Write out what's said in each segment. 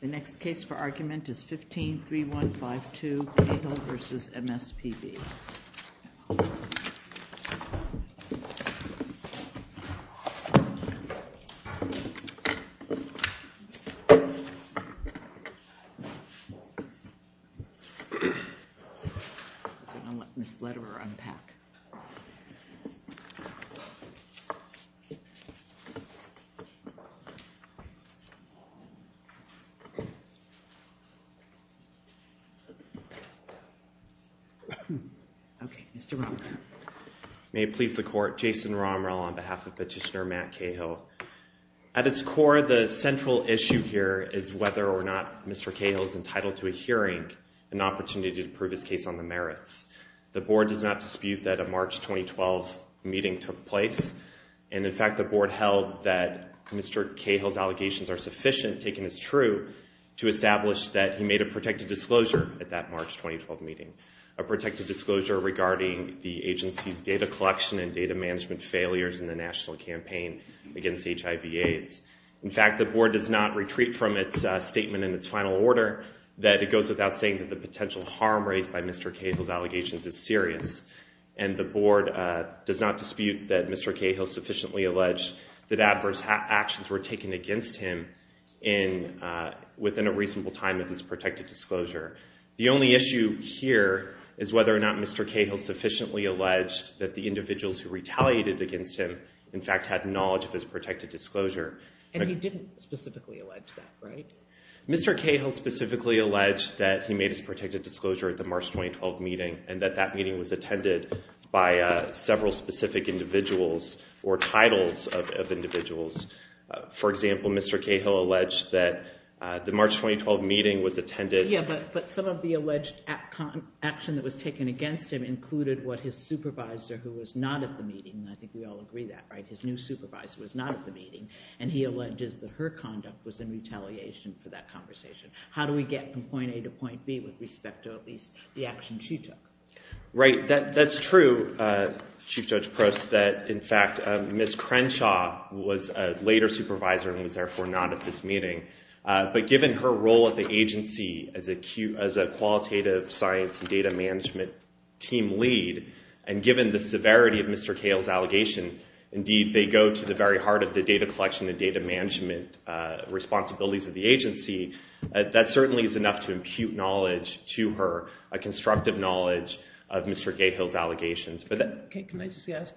The next case for argument is 15-3152, Cahill v. MSPB. I'm going to let Ms. Lederer unpack. May it please the Court, Jason Romrel on behalf of Petitioner Matt Cahill. At its core, the central issue here is whether or not Mr. Cahill is entitled to a hearing, an opportunity to prove his case on the merits. The Board does not dispute that a March 2012 meeting took place, and in fact, the Board held that Mr. Cahill's allegations are sufficient, taken as true, to establish that he made a protected disclosure at that March 2012 meeting, a protected disclosure regarding the agency's data collection and data management failures in the national campaign against HIV-AIDS. In fact, the Board does not retreat from its statement in its final order that it goes without saying that the potential harm raised by Mr. Cahill's allegations is serious. And the Board does not dispute that Mr. Cahill sufficiently alleged that adverse actions were taken against him within a reasonable time of his protected disclosure. The only issue here is whether or not Mr. Cahill sufficiently alleged that the individuals who retaliated against him, in fact, had knowledge of his protected disclosure. And he didn't specifically allege that, right? Mr. Cahill specifically alleged that he made his protected disclosure at the March 2012 meeting, and that that meeting was attended by several specific individuals or titles of individuals. For example, Mr. Cahill alleged that the March 2012 meeting was attended- Yeah, but some of the alleged action that was taken against him included what his supervisor, who was not at the meeting, and I think we all agree that, right? His new supervisor was not at the meeting. And he alleges that her conduct was in retaliation for that conversation. How do we get from point A to point B with respect to, at least, the action she took? Right. That's true, Chief Judge Prost, that, in fact, Ms. Crenshaw was a later supervisor and was therefore not at this meeting. But given her role at the agency as a qualitative science and data management team lead, and they go to the very heart of the data collection and data management responsibilities of the agency, that certainly is enough to impute knowledge to her, a constructive knowledge of Mr. Cahill's allegations. Okay, can I just ask,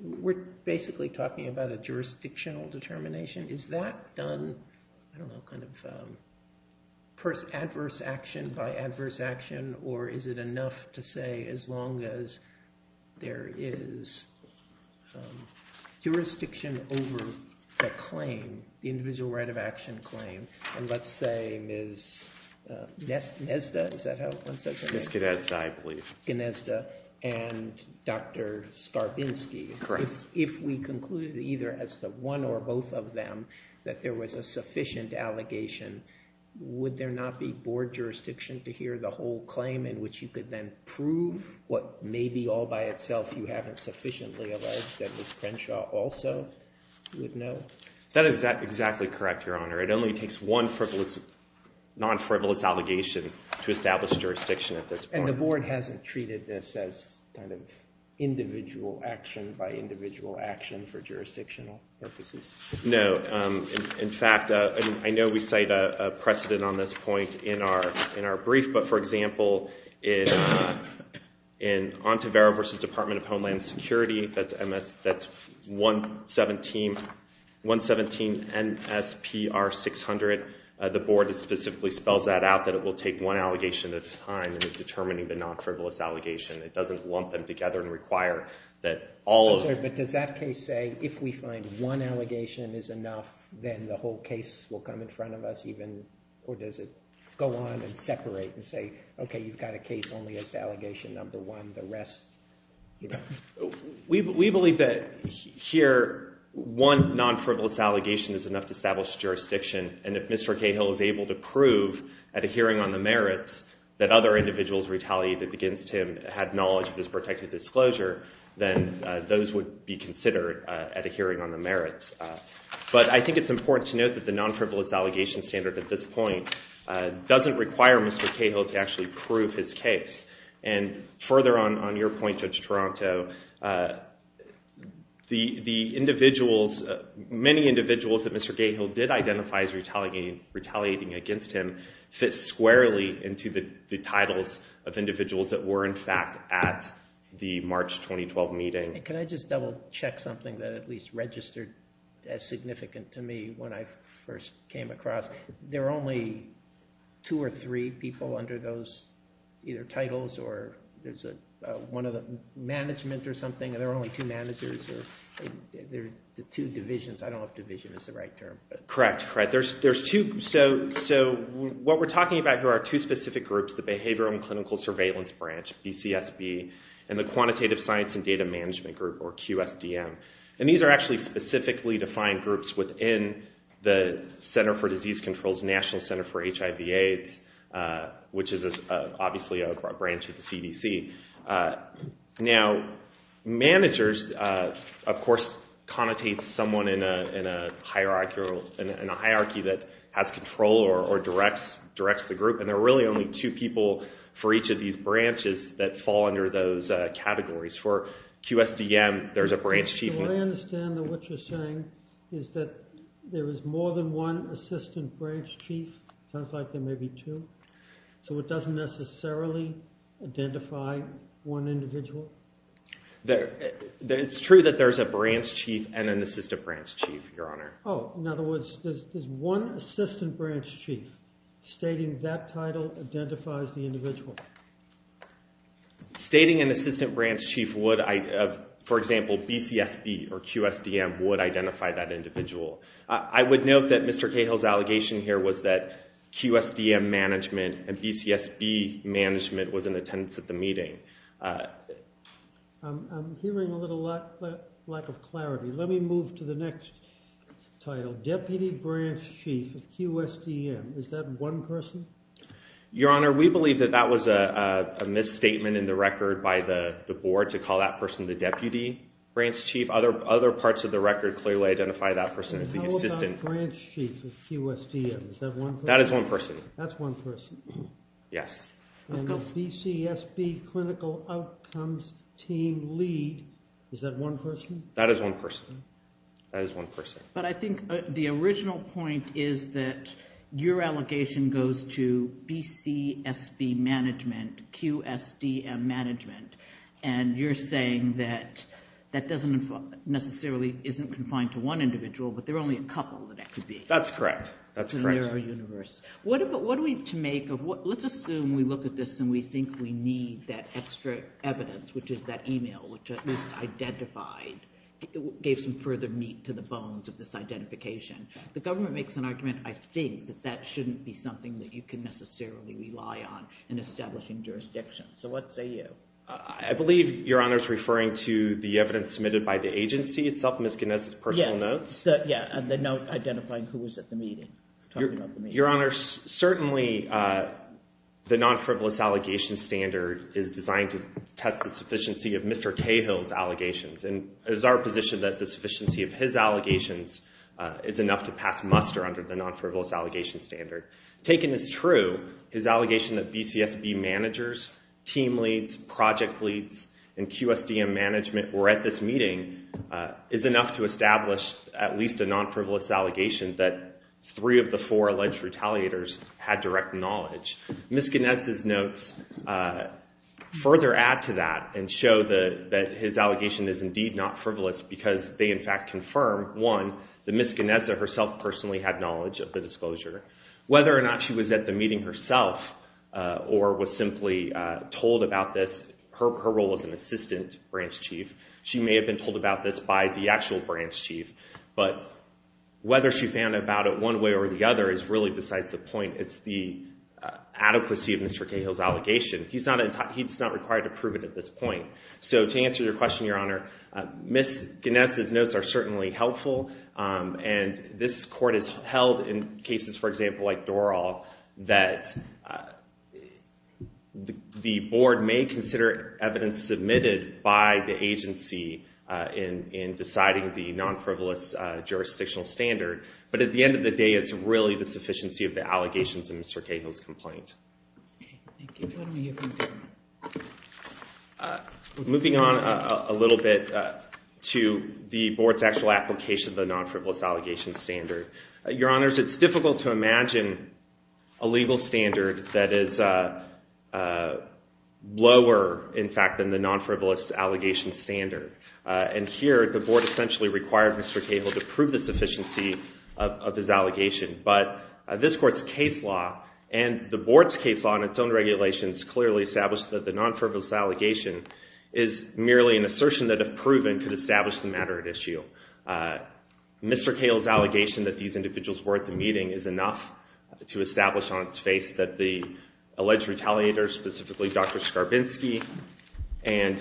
we're basically talking about a jurisdictional determination. Is that done, I don't know, kind of adverse action by adverse action, or is it enough to say, as long as there is jurisdiction over the claim, the individual right of action claim, and let's say Ms. Gnezda, is that how one says her name? Ms. Gnezda, I believe. Ms. Gnezda and Dr. Skarbinski, if we concluded either as the one or both of them that there was a sufficient allegation, would there not be board jurisdiction to hear the whole claim in which you could then prove what may be all by itself you haven't sufficiently alleged that Ms. Crenshaw also would know? That is exactly correct, Your Honor. It only takes one non-frivolous allegation to establish jurisdiction at this point. And the board hasn't treated this as kind of individual action by individual action for jurisdictional purposes? No. In fact, I know we cite a precedent on this point in our brief, but for example, in Ontivero v. Department of Homeland Security, that's 117 NSPR 600, the board specifically spells that out, that it will take one allegation at a time in determining the non-frivolous allegation. It doesn't lump them together and require that all of them. Does that case say, if we find one allegation is enough, then the whole case will come in front of us even, or does it go on and separate and say, okay, you've got a case only as the allegation number one, the rest, you know? We believe that here one non-frivolous allegation is enough to establish jurisdiction. And if Mr. Cahill is able to prove at a hearing on the merits that other individuals retaliated against him had knowledge of his protected disclosure, then those would be considered at a hearing on the merits. But I think it's important to note that the non-frivolous allegation standard at this point doesn't require Mr. Cahill to actually prove his case. And further on your point, Judge Toronto, the individuals, many individuals that Mr. Cahill did identify as retaliating against him fit squarely into the titles of individuals that were, in fact, at the March 2012 meeting. And can I just double check something that at least registered as significant to me when I first came across? There are only two or three people under those either titles, or there's one of the management or something, and there are only two managers, or there are the two divisions. I don't know if division is the right term, but... Correct, correct. There's two. So what we're talking about here are two specific groups, the behavioral and clinical surveillance branch, BCSB, and the quantitative science and data management group, or QSDM. And these are actually specifically defined groups within the Center for Disease Control's National Center for HIV-AIDS, which is obviously a branch of the CDC. Now managers, of course, connotate someone in a hierarchy that has control or directs the group. And there are really only two people for each of these branches that fall under those categories. For QSDM, there's a branch chief. So I understand that what you're saying is that there is more than one assistant branch chief. It sounds like there may be two. So it doesn't necessarily identify one individual? It's true that there's a branch chief and an assistant branch chief, Your Honor. Oh, in other words, there's one assistant branch chief stating that title identifies the individual. Stating an assistant branch chief would, for example, BCSB or QSDM would identify that individual. I would note that Mr. Cahill's allegation here was that QSDM management and BCSB management was in attendance at the meeting. I'm hearing a little lack of clarity. Let me move to the next title. Deputy Branch Chief of QSDM. Is that one person? Your Honor, we believe that that was a misstatement in the record by the board to call that person the deputy branch chief. Other parts of the record clearly identify that person as the assistant. How about Branch Chief of QSDM? Is that one person? That is one person. That's one person. Yes. And the BCSB Clinical Outcomes Team Lead, is that one person? That is one person. That is one person. But I think the original point is that your allegation goes to BCSB management, QSDM management, and you're saying that that doesn't necessarily, isn't confined to one individual, but there are only a couple that could be. That's correct. That's correct. In the neuro-universe. What are we to make of what, let's assume we look at this and we think we need that gave some further meat to the bones of this identification. The government makes an argument, I think, that that shouldn't be something that you can necessarily rely on in establishing jurisdiction. So what say you? I believe, Your Honor, is referring to the evidence submitted by the agency itself, Ms. Ginez's personal notes. Yeah. Yeah. And the note identifying who was at the meeting. Talking about the meeting. Your Honor, certainly the non-frivolous allegation standard is designed to test the sufficiency of Mr. Cahill's allegations, and it is our position that the sufficiency of his allegations is enough to pass muster under the non-frivolous allegation standard. Taken as true, his allegation that BCSB managers, team leads, project leads, and QSDM management were at this meeting is enough to establish at least a non-frivolous allegation that three of the four alleged retaliators had direct knowledge. Ms. Ginez's notes further add to that and show that his allegation is indeed not frivolous because they, in fact, confirm, one, that Ms. Ginez herself personally had knowledge of the disclosure. Whether or not she was at the meeting herself or was simply told about this, her role as an assistant branch chief, she may have been told about this by the actual branch chief, but whether she found out about it one way or the other is really besides the point. It's the adequacy of Mr. Cahill's allegation. He's not required to prove it at this point. So to answer your question, Your Honor, Ms. Ginez's notes are certainly helpful, and this court has held in cases, for example, like Doral, that the board may consider evidence submitted by the agency in deciding the non-frivolous jurisdictional standard, but at the end of the day, it's really the sufficiency of the allegations in Mr. Cahill's complaint. Moving on a little bit to the board's actual application of the non-frivolous allegation standard, Your Honors, it's difficult to imagine a legal standard that is lower, in fact, than the non-frivolous allegation standard, and here the board essentially required Mr. Cahill to prove the sufficiency of his allegation, but this court's case law and the board's case law in its own regulations clearly establish that the non-frivolous allegation is merely an assertion that, if proven, could establish the matter at issue. Mr. Cahill's allegation that these individuals were at the meeting is enough to establish on its face that the alleged retaliator, specifically Dr. Skarbinsky and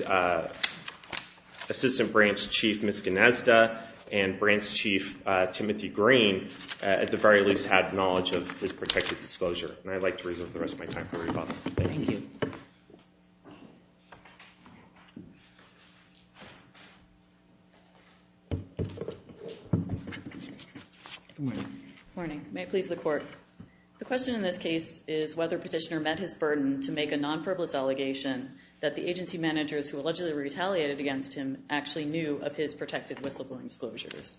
Assistant Branch Chief Ms. Gnazda and Branch Chief Timothy Green, at the very least, had knowledge of his protected disclosure. And I'd like to reserve the rest of my time for rebuttal, but thank you. Good morning. Good morning. May it please the Court. The question in this case is whether Petitioner met his burden to make a non-frivolous allegation that the agency managers who allegedly retaliated against him actually knew of his protected whistleblowing disclosures.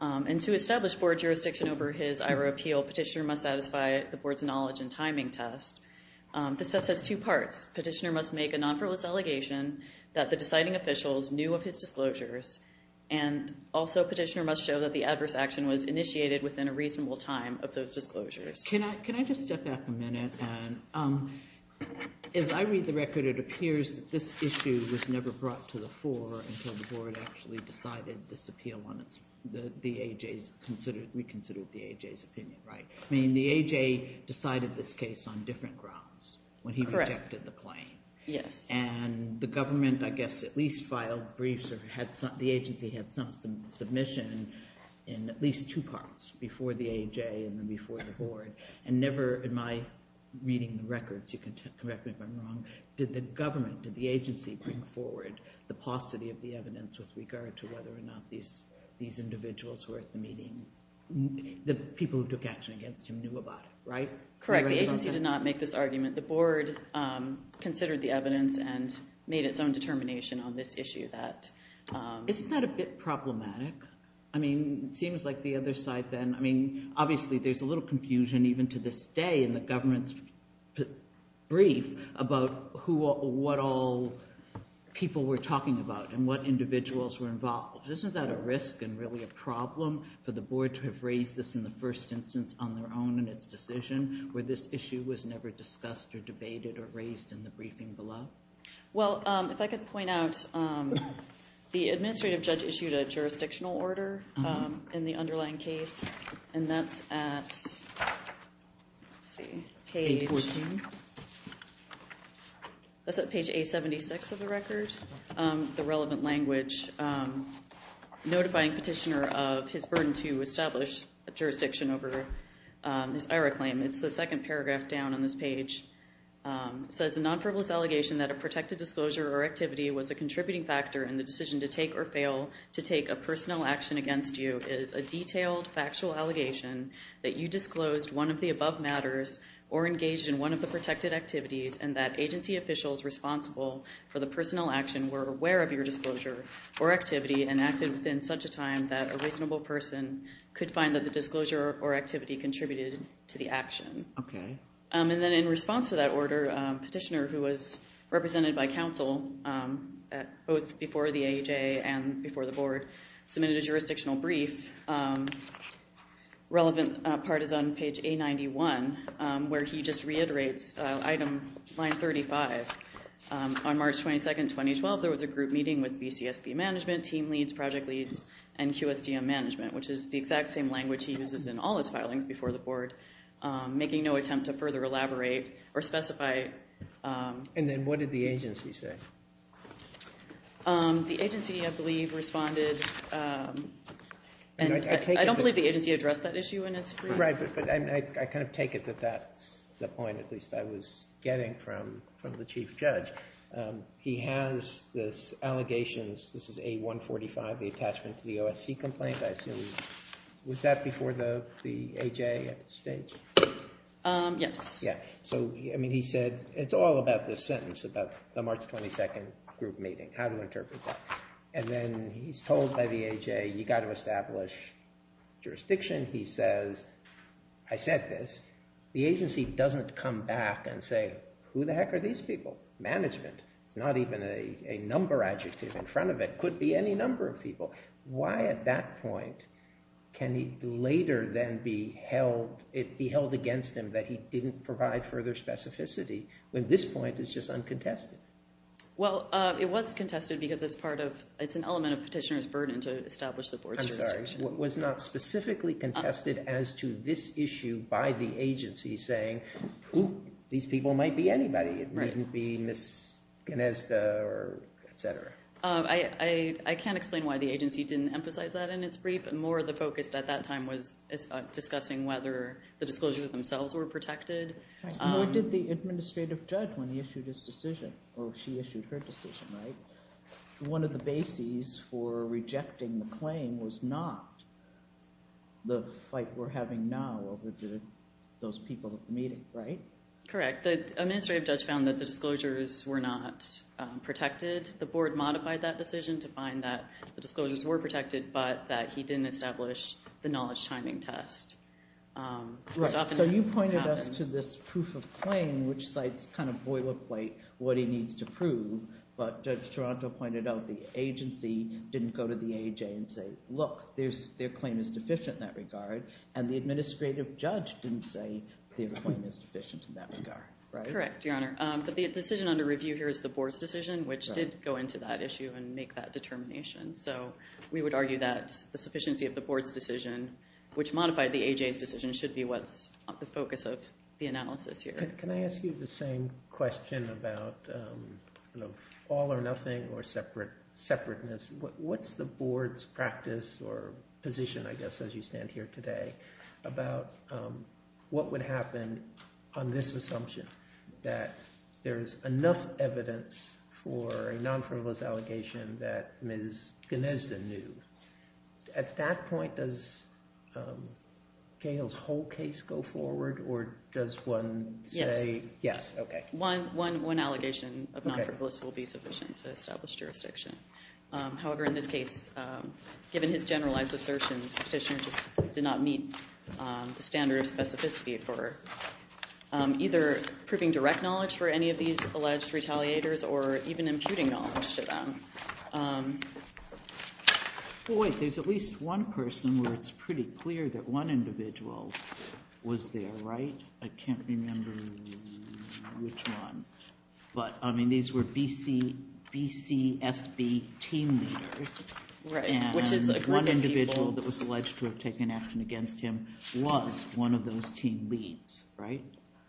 And to establish board jurisdiction over his IHRA appeal, Petitioner must satisfy the board's knowledge and timing test. The test has two parts. Petitioner must make a non-frivolous allegation that the deciding officials knew of his disclosures, and also Petitioner must show that the adverse action was initiated within a reasonable time of those disclosures. Can I just step back a minute? Yes. And as I read the record, it appears that this issue was never brought to the fore until the board actually decided this appeal on its, the AJ's, reconsidered the AJ's opinion, right? I mean, the AJ decided this case on different grounds when he rejected the claim. Yes. And the government, I guess, at least filed briefs or had some, the agency had some submission in at least two parts, before the AJ and then before the board, and never, in my reading the records, you can correct me if I'm wrong, did the government, did the agency bring forward the paucity of the evidence with regard to whether or not these, these individuals were at the meeting, the people who took action against him, knew about it, right? Correct. The agency did not make this argument. The board considered the evidence and made its own determination on this issue that... Isn't that a bit problematic? I mean, it seems like the other side then, I mean, obviously there's a little confusion even to this day in the government's brief about who, what all people were talking about and what individuals were involved. Isn't that a risk and really a problem for the board to have raised this in the first instance on their own in its decision, where this issue was never discussed or debated or raised in the briefing below? Well, if I could point out, the administrative judge issued a jurisdictional order in the underlying case, and that's at, let's see, page, that's at page A76 of the record. The relevant language, notifying petitioner of his burden to establish a jurisdiction over this IRA claim, it's the second paragraph down on this page, says a non-frivolous allegation that a protected disclosure or activity was a contributing factor in the decision to take or fail to take a personnel action against you is a detailed factual allegation that you disclosed one of the above matters or engaged in one of the protected activities and that agency officials responsible for the personnel action were aware of your disclosure or activity and acted within such a time that a reasonable person could find that the disclosure or activity contributed to the action. Okay. And then in response to that order, petitioner, who was represented by counsel both before the AJ and before the board, submitted a jurisdictional brief. Relevant part is on page A91, where he just reiterates item line 35. On March 22, 2012, there was a group meeting with BCSB management, team leads, project leads, and QSDM management, which is the exact same language he uses in all his filings before the board, making no attempt to further elaborate or specify. And then what did the agency say? The agency, I believe, responded, and I don't believe the agency addressed that issue in its brief. Right. But I kind of take it that that's the point, at least I was getting from the chief judge. He has this allegations, this is A145, the attachment to the OSC complaint, I assume. Was that before the AJ at the stage? Yes. Yeah. So, I mean, he said, it's all about this sentence about the March 22 group meeting, how to interpret that. And then he's told by the AJ, you got to establish jurisdiction. He says, I said this, the agency doesn't come back and say, who the heck are these people? Management. It's not even a number adjective in front of it. Could be any number of people. Why at that point can he later then be held, be held against him that he didn't provide further specificity, when this point is just uncontested? Well, it was contested because it's part of, it's an element of petitioner's burden to establish the board's jurisdiction. I'm sorry. It was not specifically contested as to this issue by the agency saying, who these people might be? Anybody. Right. It wouldn't be Ms. Gnezda or et cetera. I can't explain why the agency didn't emphasize that in its brief. More of the focus at that time was discussing whether the disclosures themselves were protected. Right. Nor did the administrative judge when he issued his decision, or she issued her decision, right? One of the bases for rejecting the claim was not the fight we're having now over those people at the meeting, right? Correct. The administrative judge found that the disclosures were not protected. The board modified that decision to find that the disclosures were protected, but that he didn't establish the knowledge timing test, which often happens. Right. So you pointed us to this proof of claim, which cites kind of boilerplate what he needs to prove, but Judge Toronto pointed out the agency didn't go to the AJ and say, look, their claim is deficient in that regard. And the administrative judge didn't say their claim is deficient in that regard, right? Correct, Your Honor. But the decision under review here is the board's decision, which did go into that issue and make that determination. So we would argue that the sufficiency of the board's decision, which modified the AJ's decision, should be what's the focus of the analysis here. Can I ask you the same question about all or nothing or separateness? What's the board's practice or position, I guess, as you stand here today, about what would happen on this assumption, that there's enough evidence for a non-frivolous allegation that Ms. Gnezda knew? At that point, does Cahill's whole case go forward, or does one say, yes, OK? Yes. One allegation of non-frivolous will be sufficient to establish jurisdiction. However, in this case, given his generalized assertions, Petitioner just did not meet the specificity for either proving direct knowledge for any of these alleged retaliators or even imputing knowledge to them. Well, wait, there's at least one person where it's pretty clear that one individual was there, right? I can't remember which one. But I mean, these were BCSB team leaders, and one individual that was alleged to have taken action against him was one of those team leads, right?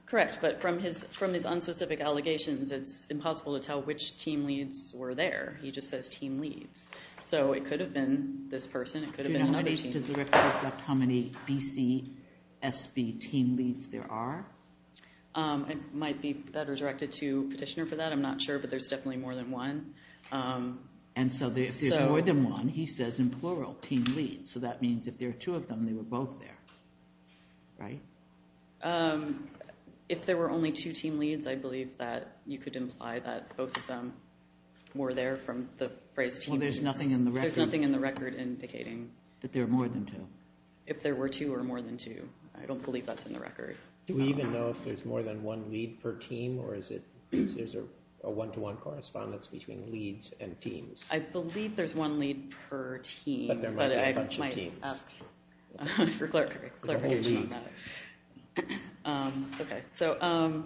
Correct. But from his unspecific allegations, it's impossible to tell which team leads were there. He just says team leads. So it could have been this person. It could have been another team. Do you know how many? Does the record reflect how many BCSB team leads there are? It might be better directed to Petitioner for that. I'm not sure, but there's definitely more than one. And so if there's more than one, he says in plural, team leads. So that means if there are two of them, they were both there, right? If there were only two team leads, I believe that you could imply that both of them were there from the phrase team leads. Well, there's nothing in the record. There's nothing in the record indicating that there are more than two. If there were two or more than two, I don't believe that's in the record. Do we even know if there's more than one lead per team, or is there a one-to-one correspondence between leads and teams? I believe there's one lead per team, but I might ask for clarification on that. So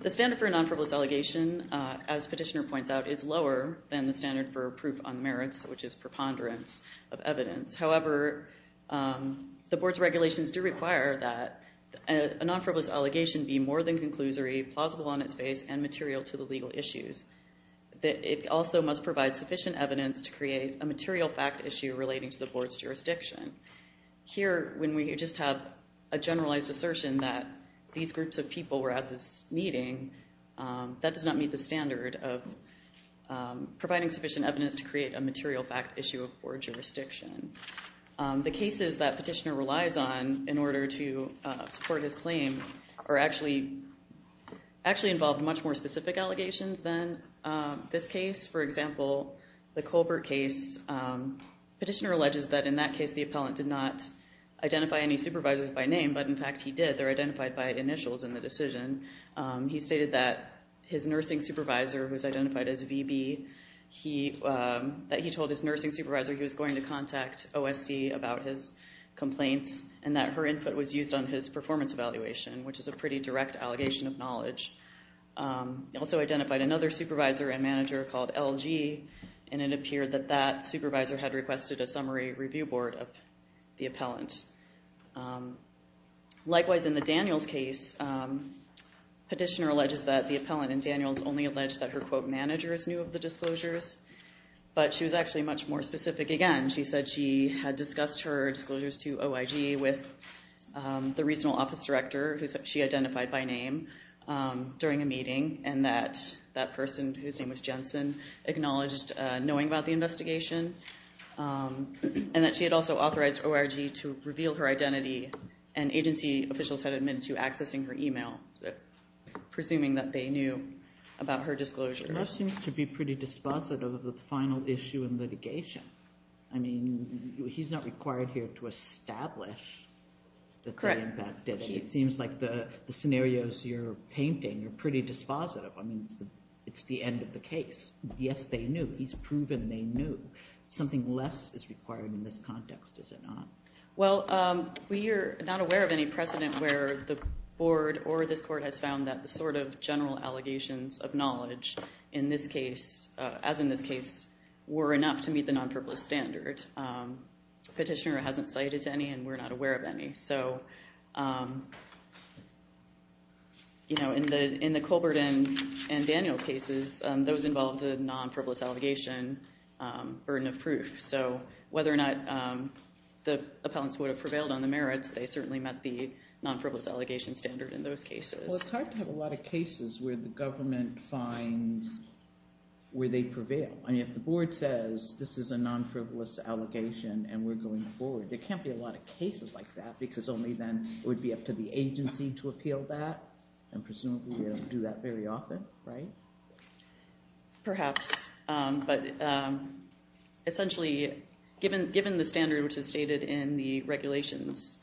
the standard for a non-frivolous allegation, as Petitioner points out, is lower than the standard for proof on merits, which is preponderance of evidence. However, the board's regulations do require that a non-frivolous allegation be more than Here, when we just have a generalized assertion that these groups of people were at this meeting, that does not meet the standard of providing sufficient evidence to create a material fact issue of board jurisdiction. The cases that Petitioner relies on in order to support his claim actually involve much more specific allegations than this case. For example, the Colbert case, Petitioner alleges that in that case the appellant did not identify any supervisors by name, but in fact he did. They're identified by initials in the decision. He stated that his nursing supervisor was identified as VB, that he told his nursing supervisor he was going to contact OSC about his complaints, and that her input was used on his performance evaluation, which is a pretty direct allegation of knowledge. He also identified another supervisor and manager called LG, and it appeared that that supervisor had requested a summary review board of the appellant. Likewise, in the Daniels case, Petitioner alleges that the appellant in Daniels only alleged that her, quote, manager is new of the disclosures, but she was actually much more specific. Again, she said she had discussed her disclosures to OIG with the regional office director, who she identified by name, during a meeting, and that that person, whose name was Jensen, acknowledged knowing about the investigation, and that she had also authorized OIG to reveal her identity, and agency officials had admitted to accessing her email, presuming that they knew about her disclosure. That seems to be pretty dispositive of the final issue in litigation. I mean, he's not required here to establish that the impact did it. It seems like the scenarios you're painting are pretty dispositive. I mean, it's the end of the case. Yes, they knew. He's proven they knew. Something less is required in this context, is it not? Well, we are not aware of any precedent where the board or this court has found that the sort of general allegations of knowledge in this case, as in this case, were enough to meet the non-purpose standard. Petitioner hasn't cited any, and we're not aware of any. So, you know, in the Colbert and Daniels cases, those involved a non-frivolous allegation burden of proof. So, whether or not the appellants would have prevailed on the merits, they certainly met the non-frivolous allegation standard in those cases. Well, it's hard to have a lot of cases where the government finds where they prevail. I mean, if the board says, this is a non-frivolous allegation, and we're going forward, there is only then, it would be up to the agency to appeal that, and presumably we don't do that very often, right? Perhaps, but essentially, given the standard which is stated in the regulations,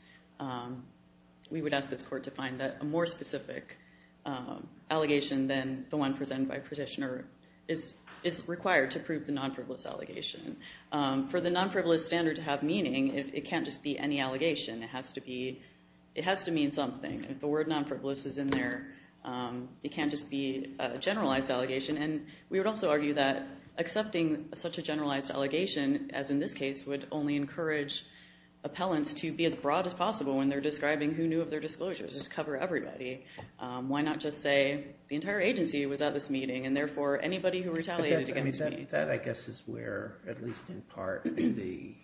we would ask this court to find that a more specific allegation than the one presented by Petitioner is required to prove the non-frivolous allegation. For the non-frivolous standard to have meaning, it can't just be any allegation, it has to mean something. If the word non-frivolous is in there, it can't just be a generalized allegation, and we would also argue that accepting such a generalized allegation, as in this case, would only encourage appellants to be as broad as possible when they're describing who knew of their disclosures. Just cover everybody. Why not just say, the entire agency was at this meeting, and therefore, anybody who retaliated against me. That, I guess, is where, at least in part, the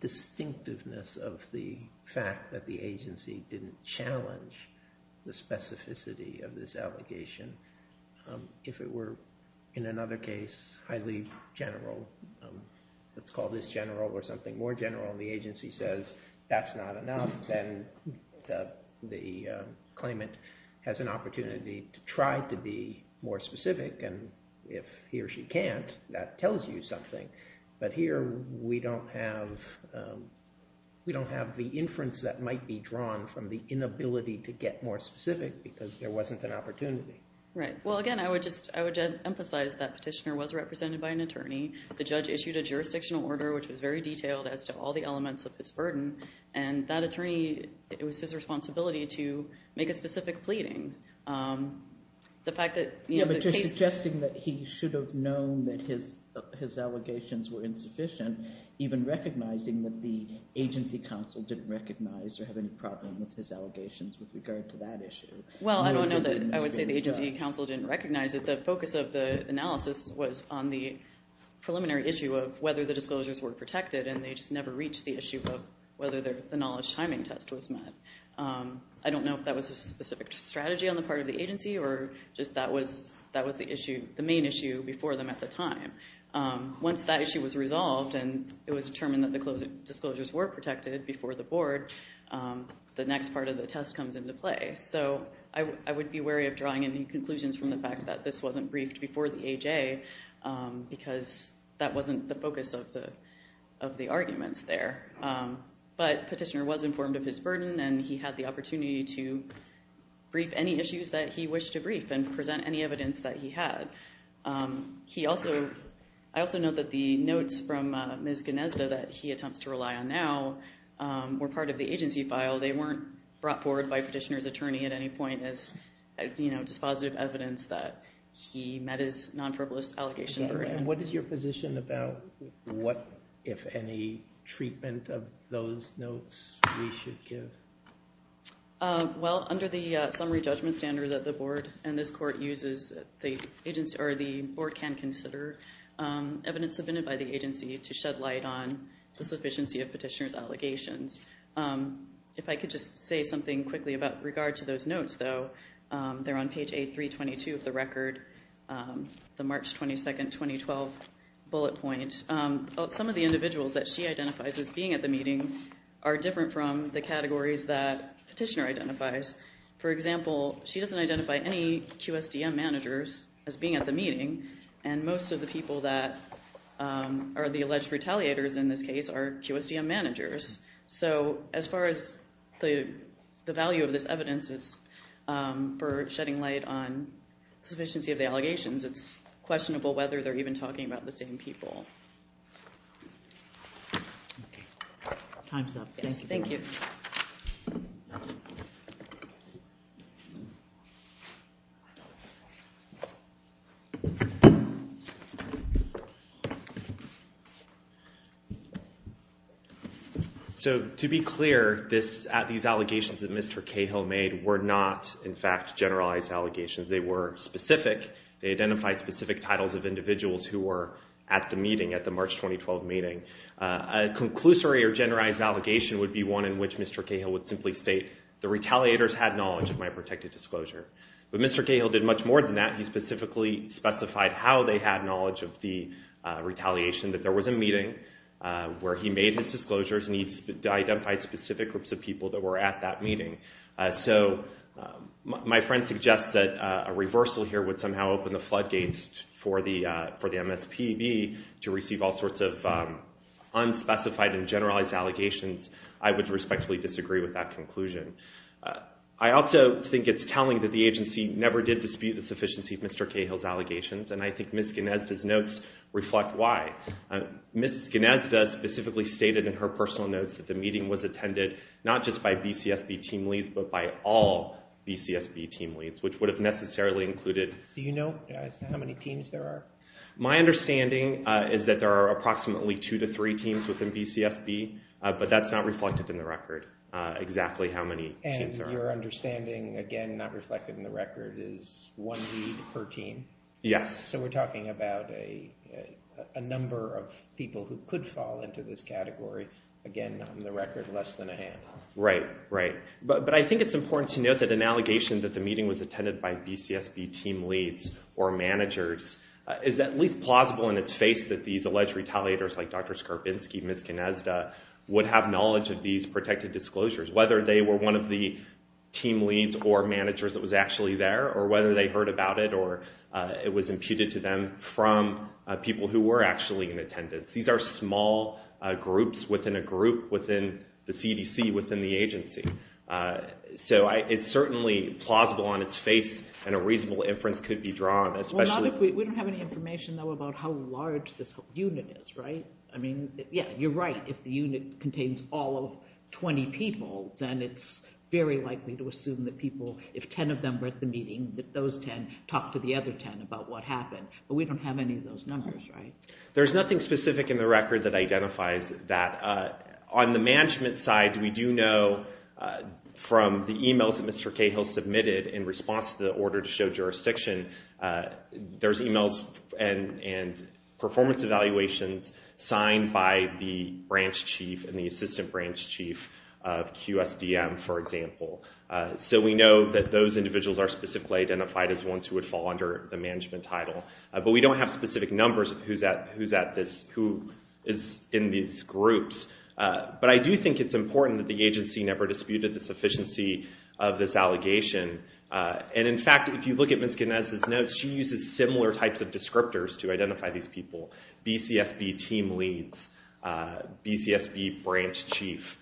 distinctiveness of the fact that the agency didn't challenge the specificity of this allegation. If it were, in another case, highly general, let's call this general or something more general and the agency says, that's not enough, then the claimant has an opportunity to try to be more specific, and if he or she can't, that tells you something. But here, we don't have the inference that might be drawn from the inability to get more specific because there wasn't an opportunity. Right. Well, again, I would just emphasize that petitioner was represented by an attorney. The judge issued a jurisdictional order, which was very detailed as to all the elements of this burden, and that attorney, it was his responsibility to make a specific pleading. The fact that the case- Yeah, but you're suggesting that he should have known that his allegations were insufficient, even recognizing that the agency counsel didn't recognize or have any problem with his allegations with regard to that issue. Well, I don't know that. I would say the agency counsel didn't recognize it. The focus of the analysis was on the preliminary issue of whether the disclosures were protected and they just never reached the issue of whether the knowledge timing test was met. I don't know if that was a specific strategy on the part of the agency or just that was the main issue before them at the time. Once that issue was resolved and it was determined that the disclosures were protected before the board, the next part of the test comes into play. So I would be wary of drawing any conclusions from the fact that this wasn't briefed before the AJ because that wasn't the focus of the arguments there. But Petitioner was informed of his burden and he had the opportunity to brief any issues that he wished to brief and present any evidence that he had. I also note that the notes from Ms. Gnezda that he attempts to rely on now were part of the agency file. They weren't brought forward by Petitioner's attorney at any point as dispositive evidence that he met his non-verbalist allegation. What is your position about what, if any, treatment of those notes we should give? Well under the summary judgment standard that the board and this court uses, the agency or the board can consider evidence submitted by the agency to shed light on the sufficiency of Petitioner's allegations. If I could just say something quickly about regard to those notes though, they're on page 8322 of the record, the March 22, 2012 bullet point. Some of the individuals that she identifies as being at the meeting are different from the categories that Petitioner identifies. For example, she doesn't identify any QSDM managers as being at the meeting and most of the people that are the alleged retaliators in this case are QSDM managers. So as far as the value of this evidence is for shedding light on sufficiency of the allegations, it's questionable whether they're even talking about the same people. Time's up. Thank you. So to be clear, these allegations that Mr. Cahill made were not, in fact, generalized allegations. They were specific. They identified specific titles of individuals who were at the meeting, at the March 2012 meeting. A conclusory or generalized allegation would be one in which Mr. Cahill would simply state, the retaliators had knowledge of my protected disclosure. But Mr. Cahill did much more than that, he specifically specified how they had knowledge of the retaliation, that there was a meeting where he made his disclosures and he identified specific groups of people that were at that meeting. So my friend suggests that a reversal here would somehow open the floodgates for the MSPB to receive all sorts of unspecified and generalized allegations. I would respectfully disagree with that conclusion. I also think it's telling that the agency never did dispute the sufficiency of Mr. Cahill's notes reflect why. Mrs. Gnazda specifically stated in her personal notes that the meeting was attended not just by BCSB team leads, but by all BCSB team leads, which would have necessarily included... Do you know how many teams there are? My understanding is that there are approximately two to three teams within BCSB, but that's not reflected in the record, exactly how many teams there are. And your understanding, again, not reflected in the record, is one lead per team? Yes. So we're talking about a number of people who could fall into this category, again, not in the record, less than a hand. Right, right. But I think it's important to note that an allegation that the meeting was attended by BCSB team leads or managers is at least plausible in its face that these alleged retaliators like Dr. Skarbinsky, Ms. Gnazda, would have knowledge of these protected disclosures, whether they were one of the team leads or managers that was actually there, or whether they heard about it, or it was imputed to them from people who were actually in attendance. These are small groups within a group within the CDC, within the agency. So it's certainly plausible on its face, and a reasonable inference could be drawn, especially... Well, not if we... We don't have any information, though, about how large this whole unit is, right? I mean, yeah, you're right, if the unit contains all of 20 people, then it's very likely to the meeting that those 10 talk to the other 10 about what happened, but we don't have any of those numbers, right? There's nothing specific in the record that identifies that. On the management side, we do know from the emails that Mr. Cahill submitted in response to the order to show jurisdiction, there's emails and performance evaluations signed by the branch chief and the assistant branch chief of QSDM, for example. So we know that those individuals are specifically identified as ones who would fall under the management title, but we don't have specific numbers of who is in these groups. But I do think it's important that the agency never disputed the sufficiency of this allegation, and in fact, if you look at Ms. Gnez's notes, she uses similar types of descriptors to identify these people. BCSB team leads, BCSB branch chief.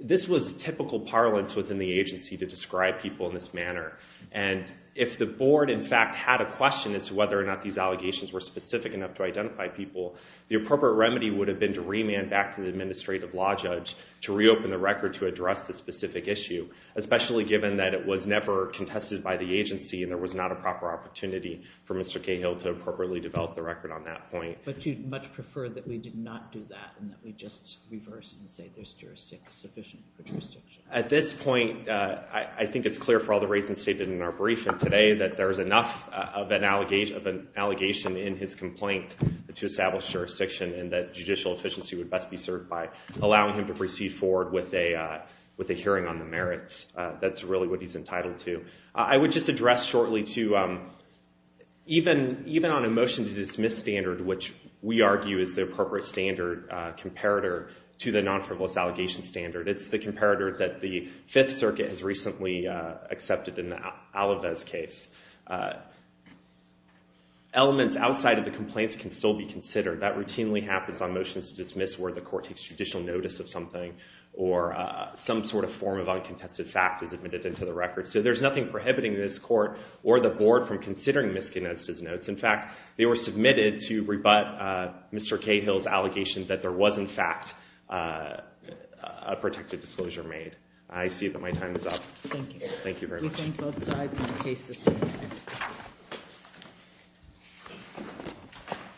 This was typical parlance within the agency to describe people in this manner, and if the board, in fact, had a question as to whether or not these allegations were specific enough to identify people, the appropriate remedy would have been to remand back to the administrative law judge to reopen the record to address the specific issue, especially given that it was never contested by the agency and there was not a proper opportunity for Mr. Cahill to appropriately develop the record on that point. But you'd much prefer that we did not do that and that we just reverse and say there's jurisdiction. At this point, I think it's clear for all the reasons stated in our brief and today that there's enough of an allegation in his complaint to establish jurisdiction and that judicial efficiency would best be served by allowing him to proceed forward with a hearing on the merits. That's really what he's entitled to. I would just address shortly, too, even on a motion to dismiss standard, which we argue is the appropriate standard comparator to the non-frivolous allegation standard, it's the comparator that the Fifth Circuit has recently accepted in the Alavez case. Elements outside of the complaints can still be considered. That routinely happens on motions to dismiss where the court takes judicial notice of something or some sort of form of uncontested fact is admitted into the record. So there's nothing prohibiting this court or the board from considering Misconnected's notes. In fact, they were submitted to rebut Mr. Cahill's allegation that there was, in fact, a protected disclosure made. I see that my time is up. Thank you. Thank you very much. We thank both sides and the case is submitted.